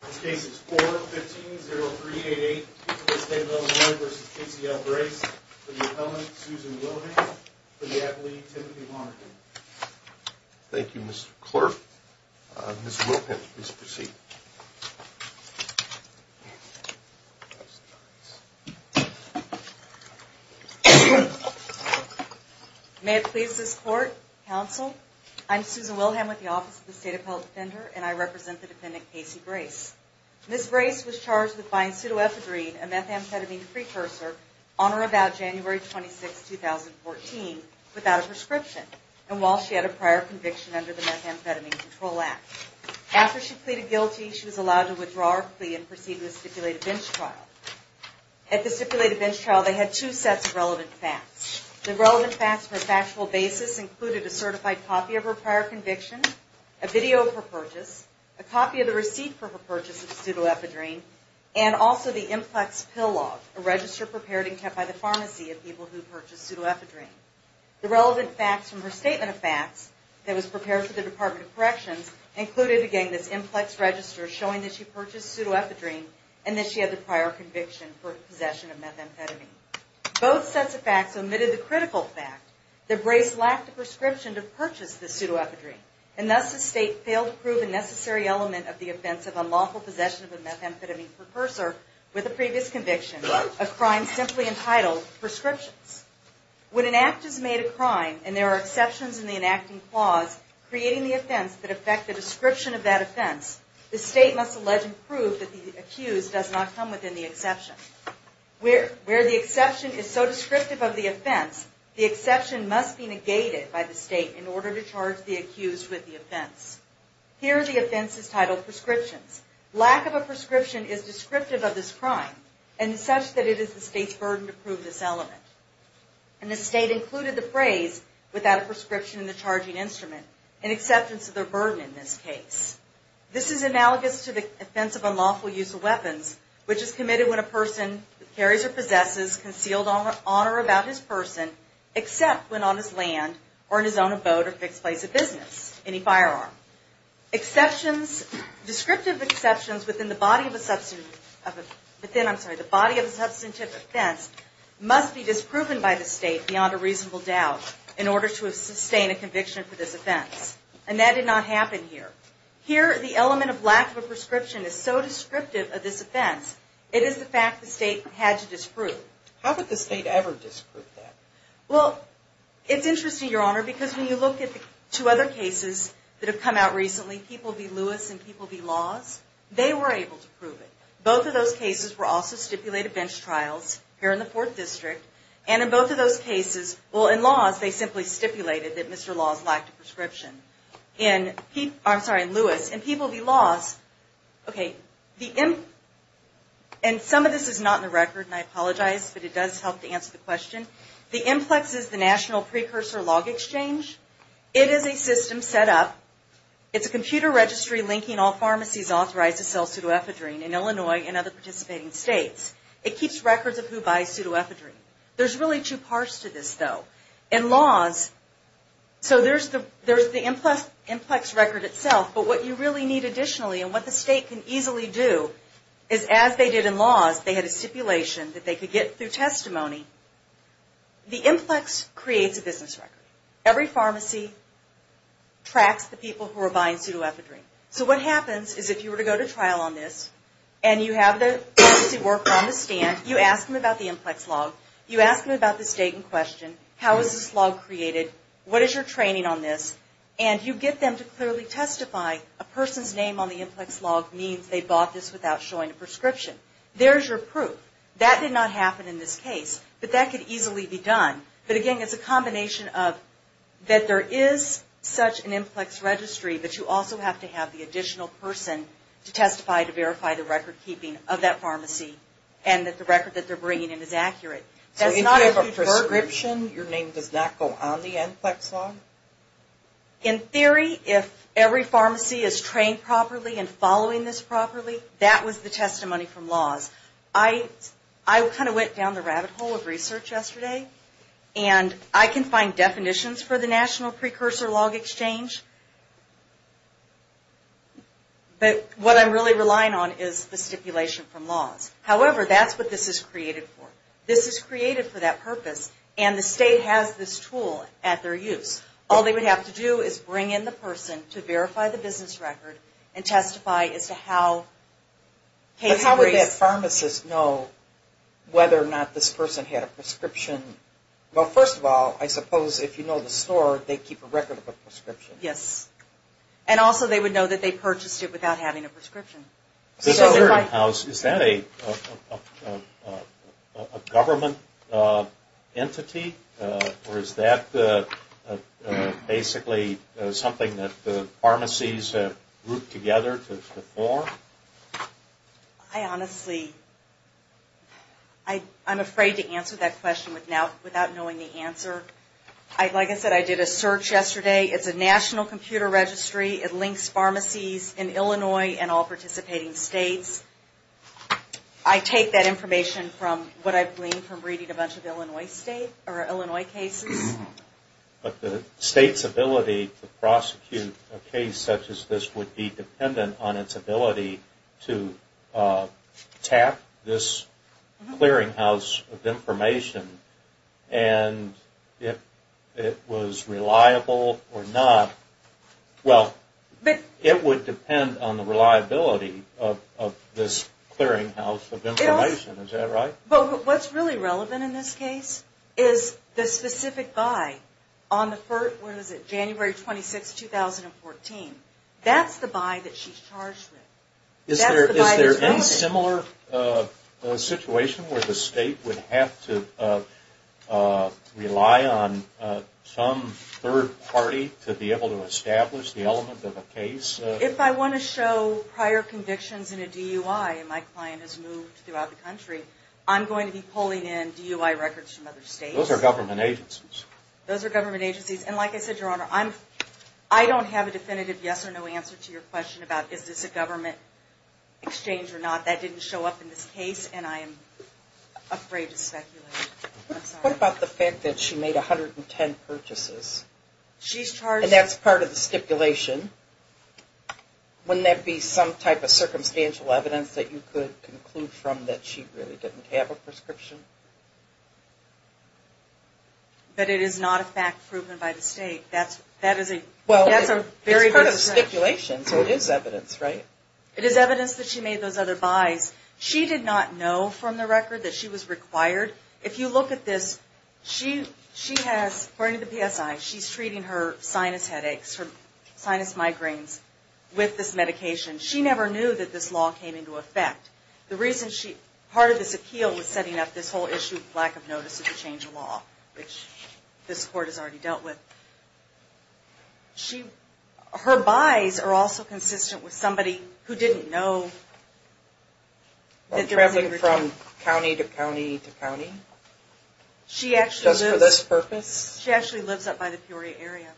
This case is 4-15-0388, State of Illinois v. Casey L. Brace, for the appellant, Susan Wilhelm, for the appellee, Timothy Lonergan. Thank you, Mr. Clerk. Ms. Wilhelm, please proceed. May it please this Court, Counsel, I'm Susan Wilhelm with the Office of the State Appellate Defender, and I represent the defendant, Casey Brace. Ms. Brace was charged with buying pseudoephedrine, a methamphetamine precursor, on or about January 26, 2014, without a prescription, and while she had a prior conviction under the Methamphetamine Control Act. After she pleaded guilty, she was allowed to withdraw her plea and proceed with a stipulated bench trial. At the stipulated bench trial, they had two sets of relevant facts. The relevant facts for a factual basis included a certified copy of her prior conviction, a video of her purchase, a copy of the receipt for her purchase of pseudoephedrine, and also the IMPLEX pill log, a register prepared and kept by the pharmacy of people who purchased pseudoephedrine. The relevant facts from her statement of facts that was prepared for the Department of Corrections included, again, this IMPLEX register showing that she purchased pseudoephedrine and that she had the prior conviction for possession of methamphetamine. Both sets of facts omitted the critical fact that Brace lacked a prescription to purchase the pseudoephedrine, and thus the State failed to prove a necessary element of the offense of unlawful possession of a methamphetamine precursor with a previous conviction of crimes simply entitled prescriptions. When an act is made a crime and there are exceptions in the enacting clause creating the offense that affect the description of that offense, the State must allege and prove that the accused does not come within the exception. Where the exception is so descriptive of the offense, the exception must be negated by the State in order to charge the accused with the offense. Here the offense is titled prescriptions. Lack of a prescription is descriptive of this crime and such that it is the State's burden to prove this element. And the State included the phrase, without a prescription in the charging instrument, in acceptance of their burden in this case. This is analogous to the offense of unlawful use of weapons, which is committed when a person carries or possesses, concealed on or about his person, except when on his land or in his own abode or fixed place of business, any firearm. Exceptions, descriptive exceptions within the body of a substantive offense must be disproven by the State beyond a reasonable doubt, in order to sustain a conviction for this offense. And that did not happen here. Here the element of lack of a prescription is so descriptive of this offense, it is the fact the State had to disprove. How could the State ever disprove that? Well, it's interesting, Your Honor, because when you look at the two other cases that have come out recently, People v. Lewis and People v. Laws, they were able to prove it. Both of those cases were also stipulated bench trials here in the Fourth District. And in both of those cases, well, in Laws, they simply stipulated that Mr. Laws lacked a prescription. In Lewis, in People v. Laws, okay, and some of this is not in the record, and I apologize, but it does help to answer the question. The IMPLEX is the National Precursor Log Exchange. It is a system set up. It's a computer registry linking all pharmacies authorized to sell pseudoephedrine in Illinois and other participating states. It keeps records of who buys pseudoephedrine. There's really two parts to this, though. In Laws, so there's the IMPLEX record itself, but what you really need additionally, and what the State can easily do, is as they did in Laws, they had a stipulation that they could get through testimony. The IMPLEX creates a business record. Every pharmacy tracks the people who are buying pseudoephedrine. So what happens is if you were to go to trial on this, and you have the pharmacy worker on the stand, you ask them about the IMPLEX log, you ask them about the state in question, how is this log created, what is your training on this, and you get them to clearly testify a person's name on the IMPLEX log means they bought this without showing a prescription. There's your proof. That did not happen in this case, but that could easily be done. But again, it's a combination of that there is such an IMPLEX registry, but you also have to have the additional person to testify to verify the record keeping of that pharmacy, and that the record that they're bringing in is accurate. That's not a huge burden. So if you have a prescription, your name does not go on the IMPLEX log? In theory, if every pharmacy is trained properly and following this properly, that was the testimony from laws. I kind of went down the rabbit hole of research yesterday, and I can find definitions for the National Precursor Log Exchange, but what I'm really relying on is the stipulation from laws. However, that's what this is created for. This is created for that purpose, and the state has this tool at their use. All they would have to do is bring in the person to verify the business record and testify as to how cases were raised. But how would that pharmacist know whether or not this person had a prescription? Well, first of all, I suppose if you know the store, they keep a record of a prescription. Yes, and also they would know that they purchased it without having a prescription. Is that a government entity, or is that basically something that the pharmacies have grouped together to form? I honestly am afraid to answer that question without knowing the answer. Like I said, I did a search yesterday. It's a national computer registry. It links pharmacies in Illinois and all participating states. I take that information from what I've gleaned from reading a bunch of Illinois cases. But the state's ability to prosecute a case such as this would be dependent on its ability and if it was reliable or not. Well, it would depend on the reliability of this clearinghouse of information. Is that right? Well, what's really relevant in this case is the specific buy. On the first, what is it, January 26, 2014, that's the buy that she's charged with. Is there any similar situation where the state would have to rely on some third party to be able to establish the element of a case? If I want to show prior convictions in a DUI and my client has moved throughout the country, I'm going to be pulling in DUI records from other states. Those are government agencies. Those are government agencies. And like I said, Your Honor, I don't have a definitive yes or no answer to your question about is this a government exchange or not. That didn't show up in this case and I'm afraid to speculate. What about the fact that she made 110 purchases? And that's part of the stipulation. Wouldn't that be some type of circumstantial evidence that you could conclude from that she really didn't have a prescription? But it is not a fact proven by the state. Well, it's part of the stipulation, so it is evidence, right? It is evidence that she made those other buys. She did not know from the record that she was required. If you look at this, she has, according to the PSI, she's treating her sinus headaches, her sinus migraines with this medication. She never knew that this law came into effect. The reason she, part of this appeal was setting up this whole issue of lack of notice of the change of law, which this court has already dealt with. Her buys are also consistent with somebody who didn't know that there was a return. Traveling from county to county to county? Just for this purpose? She actually lives up by the Peoria area.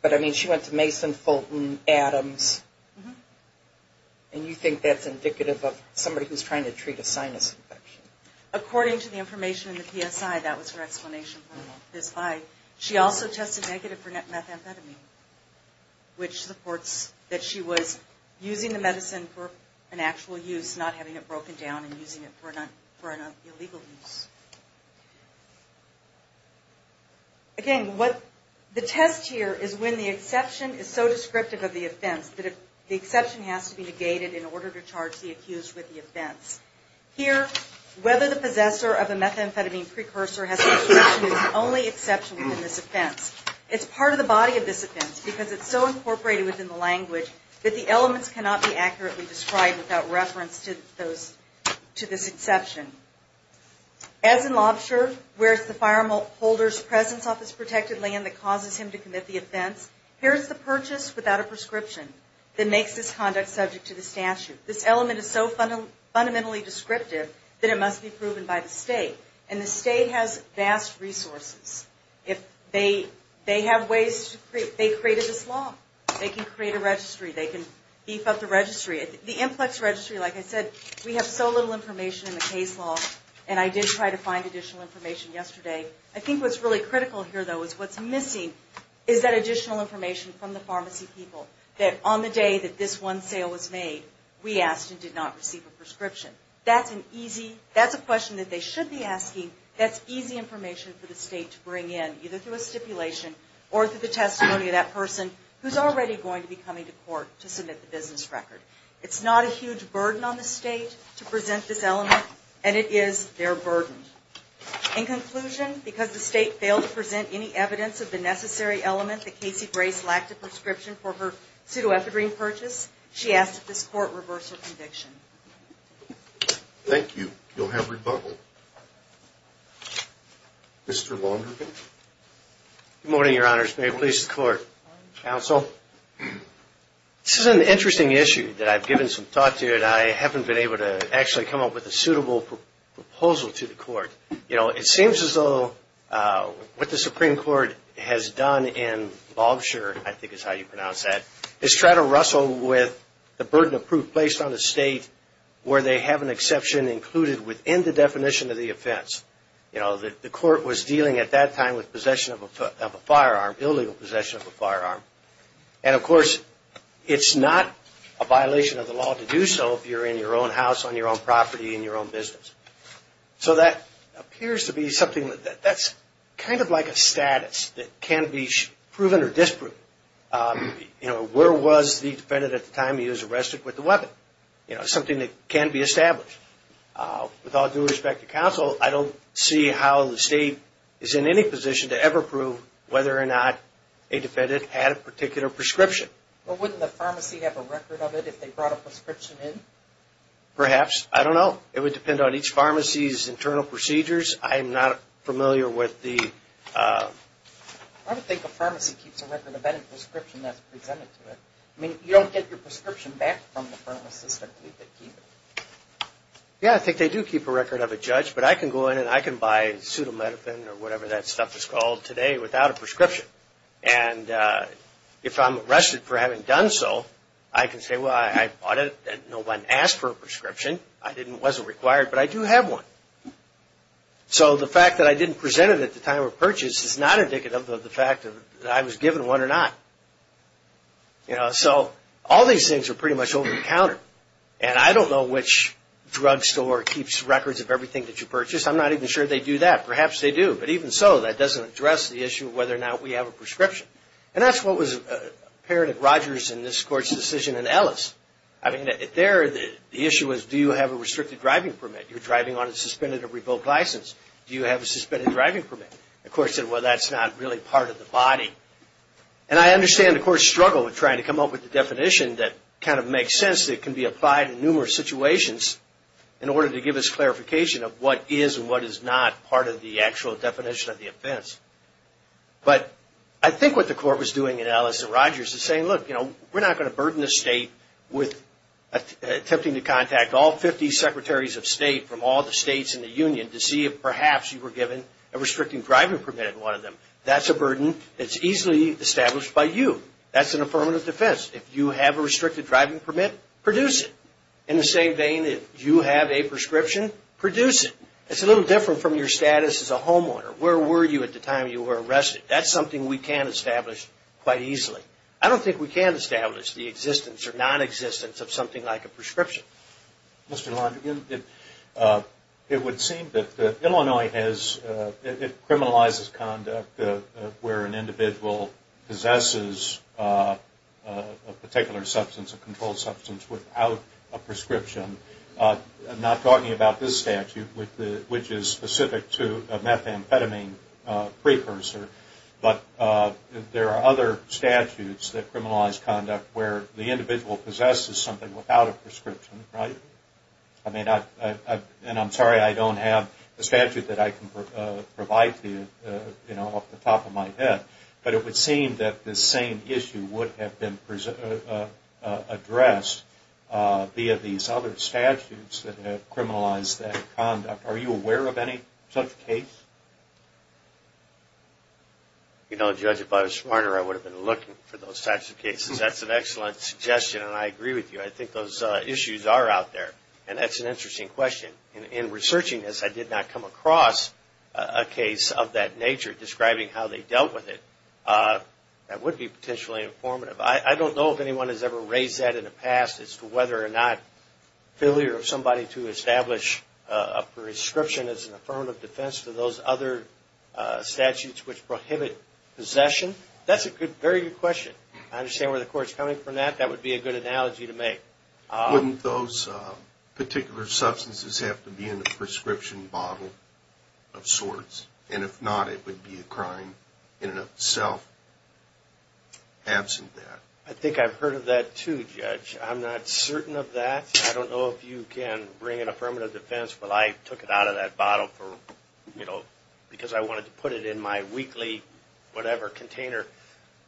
But, I mean, she went to Mason, Fulton, Adams, and you think that's indicative of somebody who's trying to treat a sinus infection? According to the information in the PSI, that was her explanation for this buy. She also tested negative for methamphetamine, which supports that she was using the medicine for an actual use, not having it broken down and using it for an illegal use. Again, the test here is when the exception is so descriptive of the offense that the exception has to be negated in order to charge the accused with the offense. Here, whether the possessor of a methamphetamine precursor has prescription is the only exception in this offense. It's part of the body of this offense because it's so incorporated within the language that the elements cannot be accurately described without reference to this exception. As in Lobsher, where it's the firearm holder's presence off his protected land that causes him to commit the offense, here's the purchase without a prescription that makes this conduct subject to the statute. This element is so fundamentally descriptive that it must be proven by the state, and the state has vast resources. They have ways to create this law. They can create a registry. They can beef up the registry. The IMPLEX registry, like I said, we have so little information in the case law, and I did try to find additional information yesterday. I think what's really critical here, though, is what's missing is that additional information from the pharmacy people that on the day that this one sale was made, we asked and did not receive a prescription. That's a question that they should be asking. That's easy information for the state to bring in, either through a stipulation or through the testimony of that person who's already going to be coming to court to submit the business record. It's not a huge burden on the state to present this element, and it is their burden. In conclusion, because the state failed to present any evidence of the necessary element that Casey Grace lacked a prescription for her pseudoepidurine purchase, she asked that this court reverse her conviction. Thank you. You'll have rebuttal. Mr. Longhurton. Good morning, Your Honors. May it please the Court. Counsel. This is an interesting issue that I've given some thought to, but I haven't been able to actually come up with a suitable proposal to the Court. You know, it seems as though what the Supreme Court has done in Lobsher, I think is how you pronounce that, is try to wrestle with the burden of proof placed on the state where they have an exception included within the definition of the offense. You know, the Court was dealing at that time with possession of a firearm, illegal possession of a firearm. And, of course, it's not a violation of the law to do so if you're in your own house, on your own property, in your own business. So that appears to be something that's kind of like a status that can be proven or disproven. You know, where was the defendant at the time he was arrested with the weapon? You know, something that can be established. With all due respect to counsel, I don't see how the state is in any position to ever prove whether or not a defendant had a particular prescription. Well, wouldn't the pharmacy have a record of it if they brought a prescription in? Perhaps. I don't know. It would depend on each pharmacy's internal procedures. I'm not familiar with the... I don't think a pharmacy keeps a record of any prescription that's presented to it. I mean, you don't get your prescription back from the pharmacist. I believe they keep it. Yeah, I think they do keep a record of it, Judge, but I can go in and I can buy Pseudomedipen or whatever that stuff is called today without a prescription. And if I'm arrested for having done so, I can say, well, I bought it and no one asked for a prescription. It wasn't required, but I do have one. So the fact that I didn't present it at the time of purchase is not indicative of the fact that I was given one or not. You know, so all these things are pretty much over the counter, and I don't know which drugstore keeps records of everything that you purchase. I'm not even sure they do that. Perhaps they do, but even so, that doesn't address the issue of whether or not we have a prescription. And that's what was apparent at Rogers in this Court's decision in Ellis. I mean, there the issue was do you have a restricted driving permit? You're driving on a suspended or revoked license. Do you have a suspended driving permit? The Court said, well, that's not really part of the body. And I understand the Court's struggle in trying to come up with a definition that kind of makes sense that can be applied in numerous situations in order to give us clarification of what is and what is not part of the actual definition of the offense. But I think what the Court was doing in Ellis at Rogers is saying, look, you know, we're not going to burden the state with attempting to contact all 50 secretaries of state from all the states in the union to see if perhaps you were given a restricting driving permit in one of them. That's a burden that's easily established by you. That's an affirmative defense. If you have a restricted driving permit, produce it. In the same vein, if you have a prescription, produce it. It's a little different from your status as a homeowner. Where were you at the time you were arrested? That's something we can't establish quite easily. I don't think we can't establish the existence or nonexistence of something like a prescription. Mr. Landry, it would seem that Illinois criminalizes conduct where an individual possesses a particular substance, a controlled substance, without a prescription. I'm not talking about this statute, which is specific to a methamphetamine precursor. But there are other statutes that criminalize conduct where the individual possesses something without a prescription. I'm sorry I don't have the statute that I can provide to you off the top of my head, but it would seem that this same issue would have been addressed via these other statutes that have criminalized that conduct. Are you aware of any such case? You know, Judge, if I was smarter I would have been looking for those types of cases. That's an excellent suggestion, and I agree with you. I think those issues are out there, and that's an interesting question. In researching this, I did not come across a case of that nature, describing how they dealt with it. That would be potentially informative. I don't know if anyone has ever raised that in the past, as to whether or not failure of somebody to establish a prescription as an affirmative defense to those other statutes which prohibit possession. That's a very good question. I understand where the court is coming from that. That would be a good analogy to make. Wouldn't those particular substances have to be in the prescription bottle of sorts? And if not, it would be a crime in and of itself, absent that. I think I've heard of that too, Judge. I'm not certain of that. I don't know if you can bring an affirmative defense, but I took it out of that bottle because I wanted to put it in my weekly whatever container.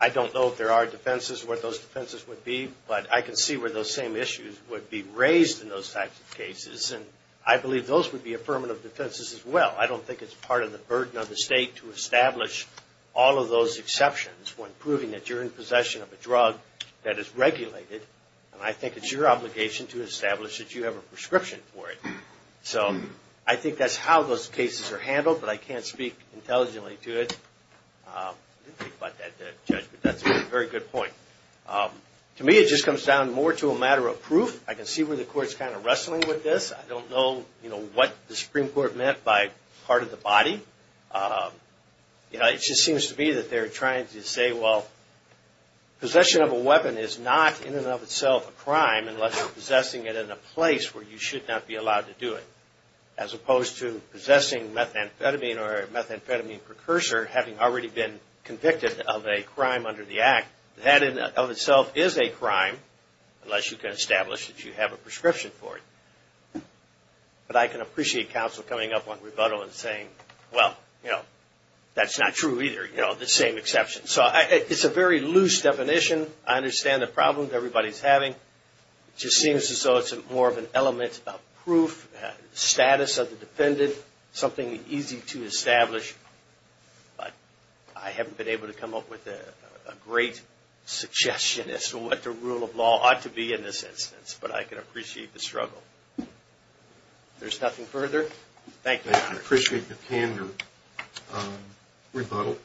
I don't know if there are defenses, what those defenses would be, but I can see where those same issues would be raised in those types of cases, and I believe those would be affirmative defenses as well. I don't think it's part of the burden of the state to establish all of those exceptions when proving that you're in possession of a drug that is regulated, and I think it's your obligation to establish that you have a prescription for it. So I think that's how those cases are handled, but I can't speak intelligently to it. I didn't think about that, Judge, but that's a very good point. To me it just comes down more to a matter of proof. I can see where the Court's kind of wrestling with this. I don't know what the Supreme Court meant by part of the body. It just seems to me that they're trying to say, well, possession of a weapon is not in and of itself a crime unless you're possessing it in a place where you should not be allowed to do it, as opposed to possessing methamphetamine or a methamphetamine precursor having already been convicted of a crime under the Act. That in and of itself is a crime unless you can establish that you have a prescription for it. But I can appreciate counsel coming up on rebuttal and saying, well, you know, that's not true either, you know, the same exception. So it's a very loose definition. I understand the problems everybody's having. It just seems as though it's more of an element of proof, status of the defendant, something easy to establish. But I haven't been able to come up with a great suggestion as to what the rule of law ought to be in this instance. But I can appreciate the struggle. If there's nothing further, thank you, Your Honor. I appreciate the candor. Rebuttal.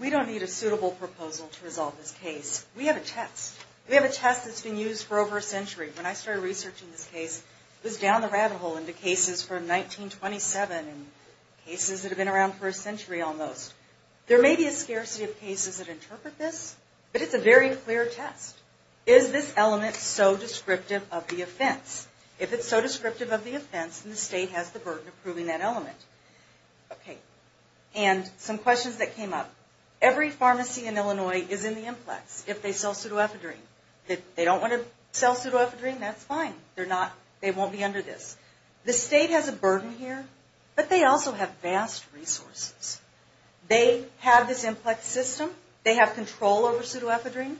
We don't need a suitable proposal to resolve this case. We have a test. We have a test that's been used for over a century. When I started researching this case, it was down the rabbit hole into cases from 1927 and cases that have been around for a century almost. There may be a scarcity of cases that interpret this, but it's a very clear test. Is this element so descriptive of the offense? If it's so descriptive of the offense, then the state has the burden of proving that element. Okay. And some questions that came up. Every pharmacy in Illinois is in the implex if they sell pseudoephedrine. If they don't want to sell pseudoephedrine, that's fine. They won't be under this. The state has a burden here, but they also have vast resources. They have this implex system. They have control over pseudoephedrine.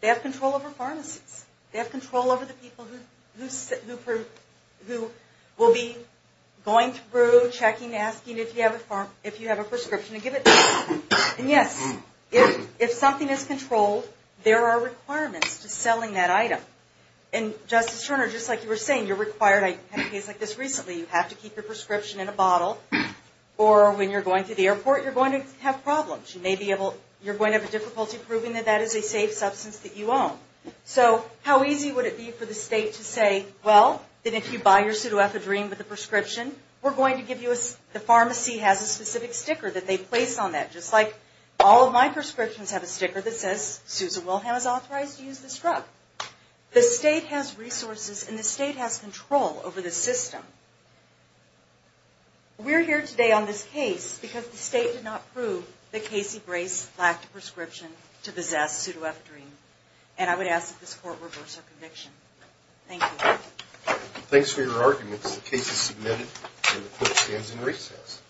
They have control over pharmacies. They have control over the people who will be going through, checking, asking if you have a prescription to give it to them. And, yes, if something is controlled, there are requirements to selling that item. And, Justice Turner, just like you were saying, you're required. I had a case like this recently. You have to keep your prescription in a bottle, or when you're going to the airport, you're going to have problems. You're going to have difficulty proving that that is a safe substance that you own. So how easy would it be for the state to say, well, if you buy your pseudoephedrine with a prescription, we're going to give you a, the pharmacy has a specific sticker that they place on that, just like all of my prescriptions have a sticker that says, Susan Wilhelm is authorized to use this drug. The state has resources, and the state has control over the system. We're here today on this case because the state did not prove that Casey Brace lacked a prescription to possess pseudoephedrine. And I would ask that this Court reverse our conviction. Thank you. Thanks for your arguments. The case is submitted, and the Court stands in recess.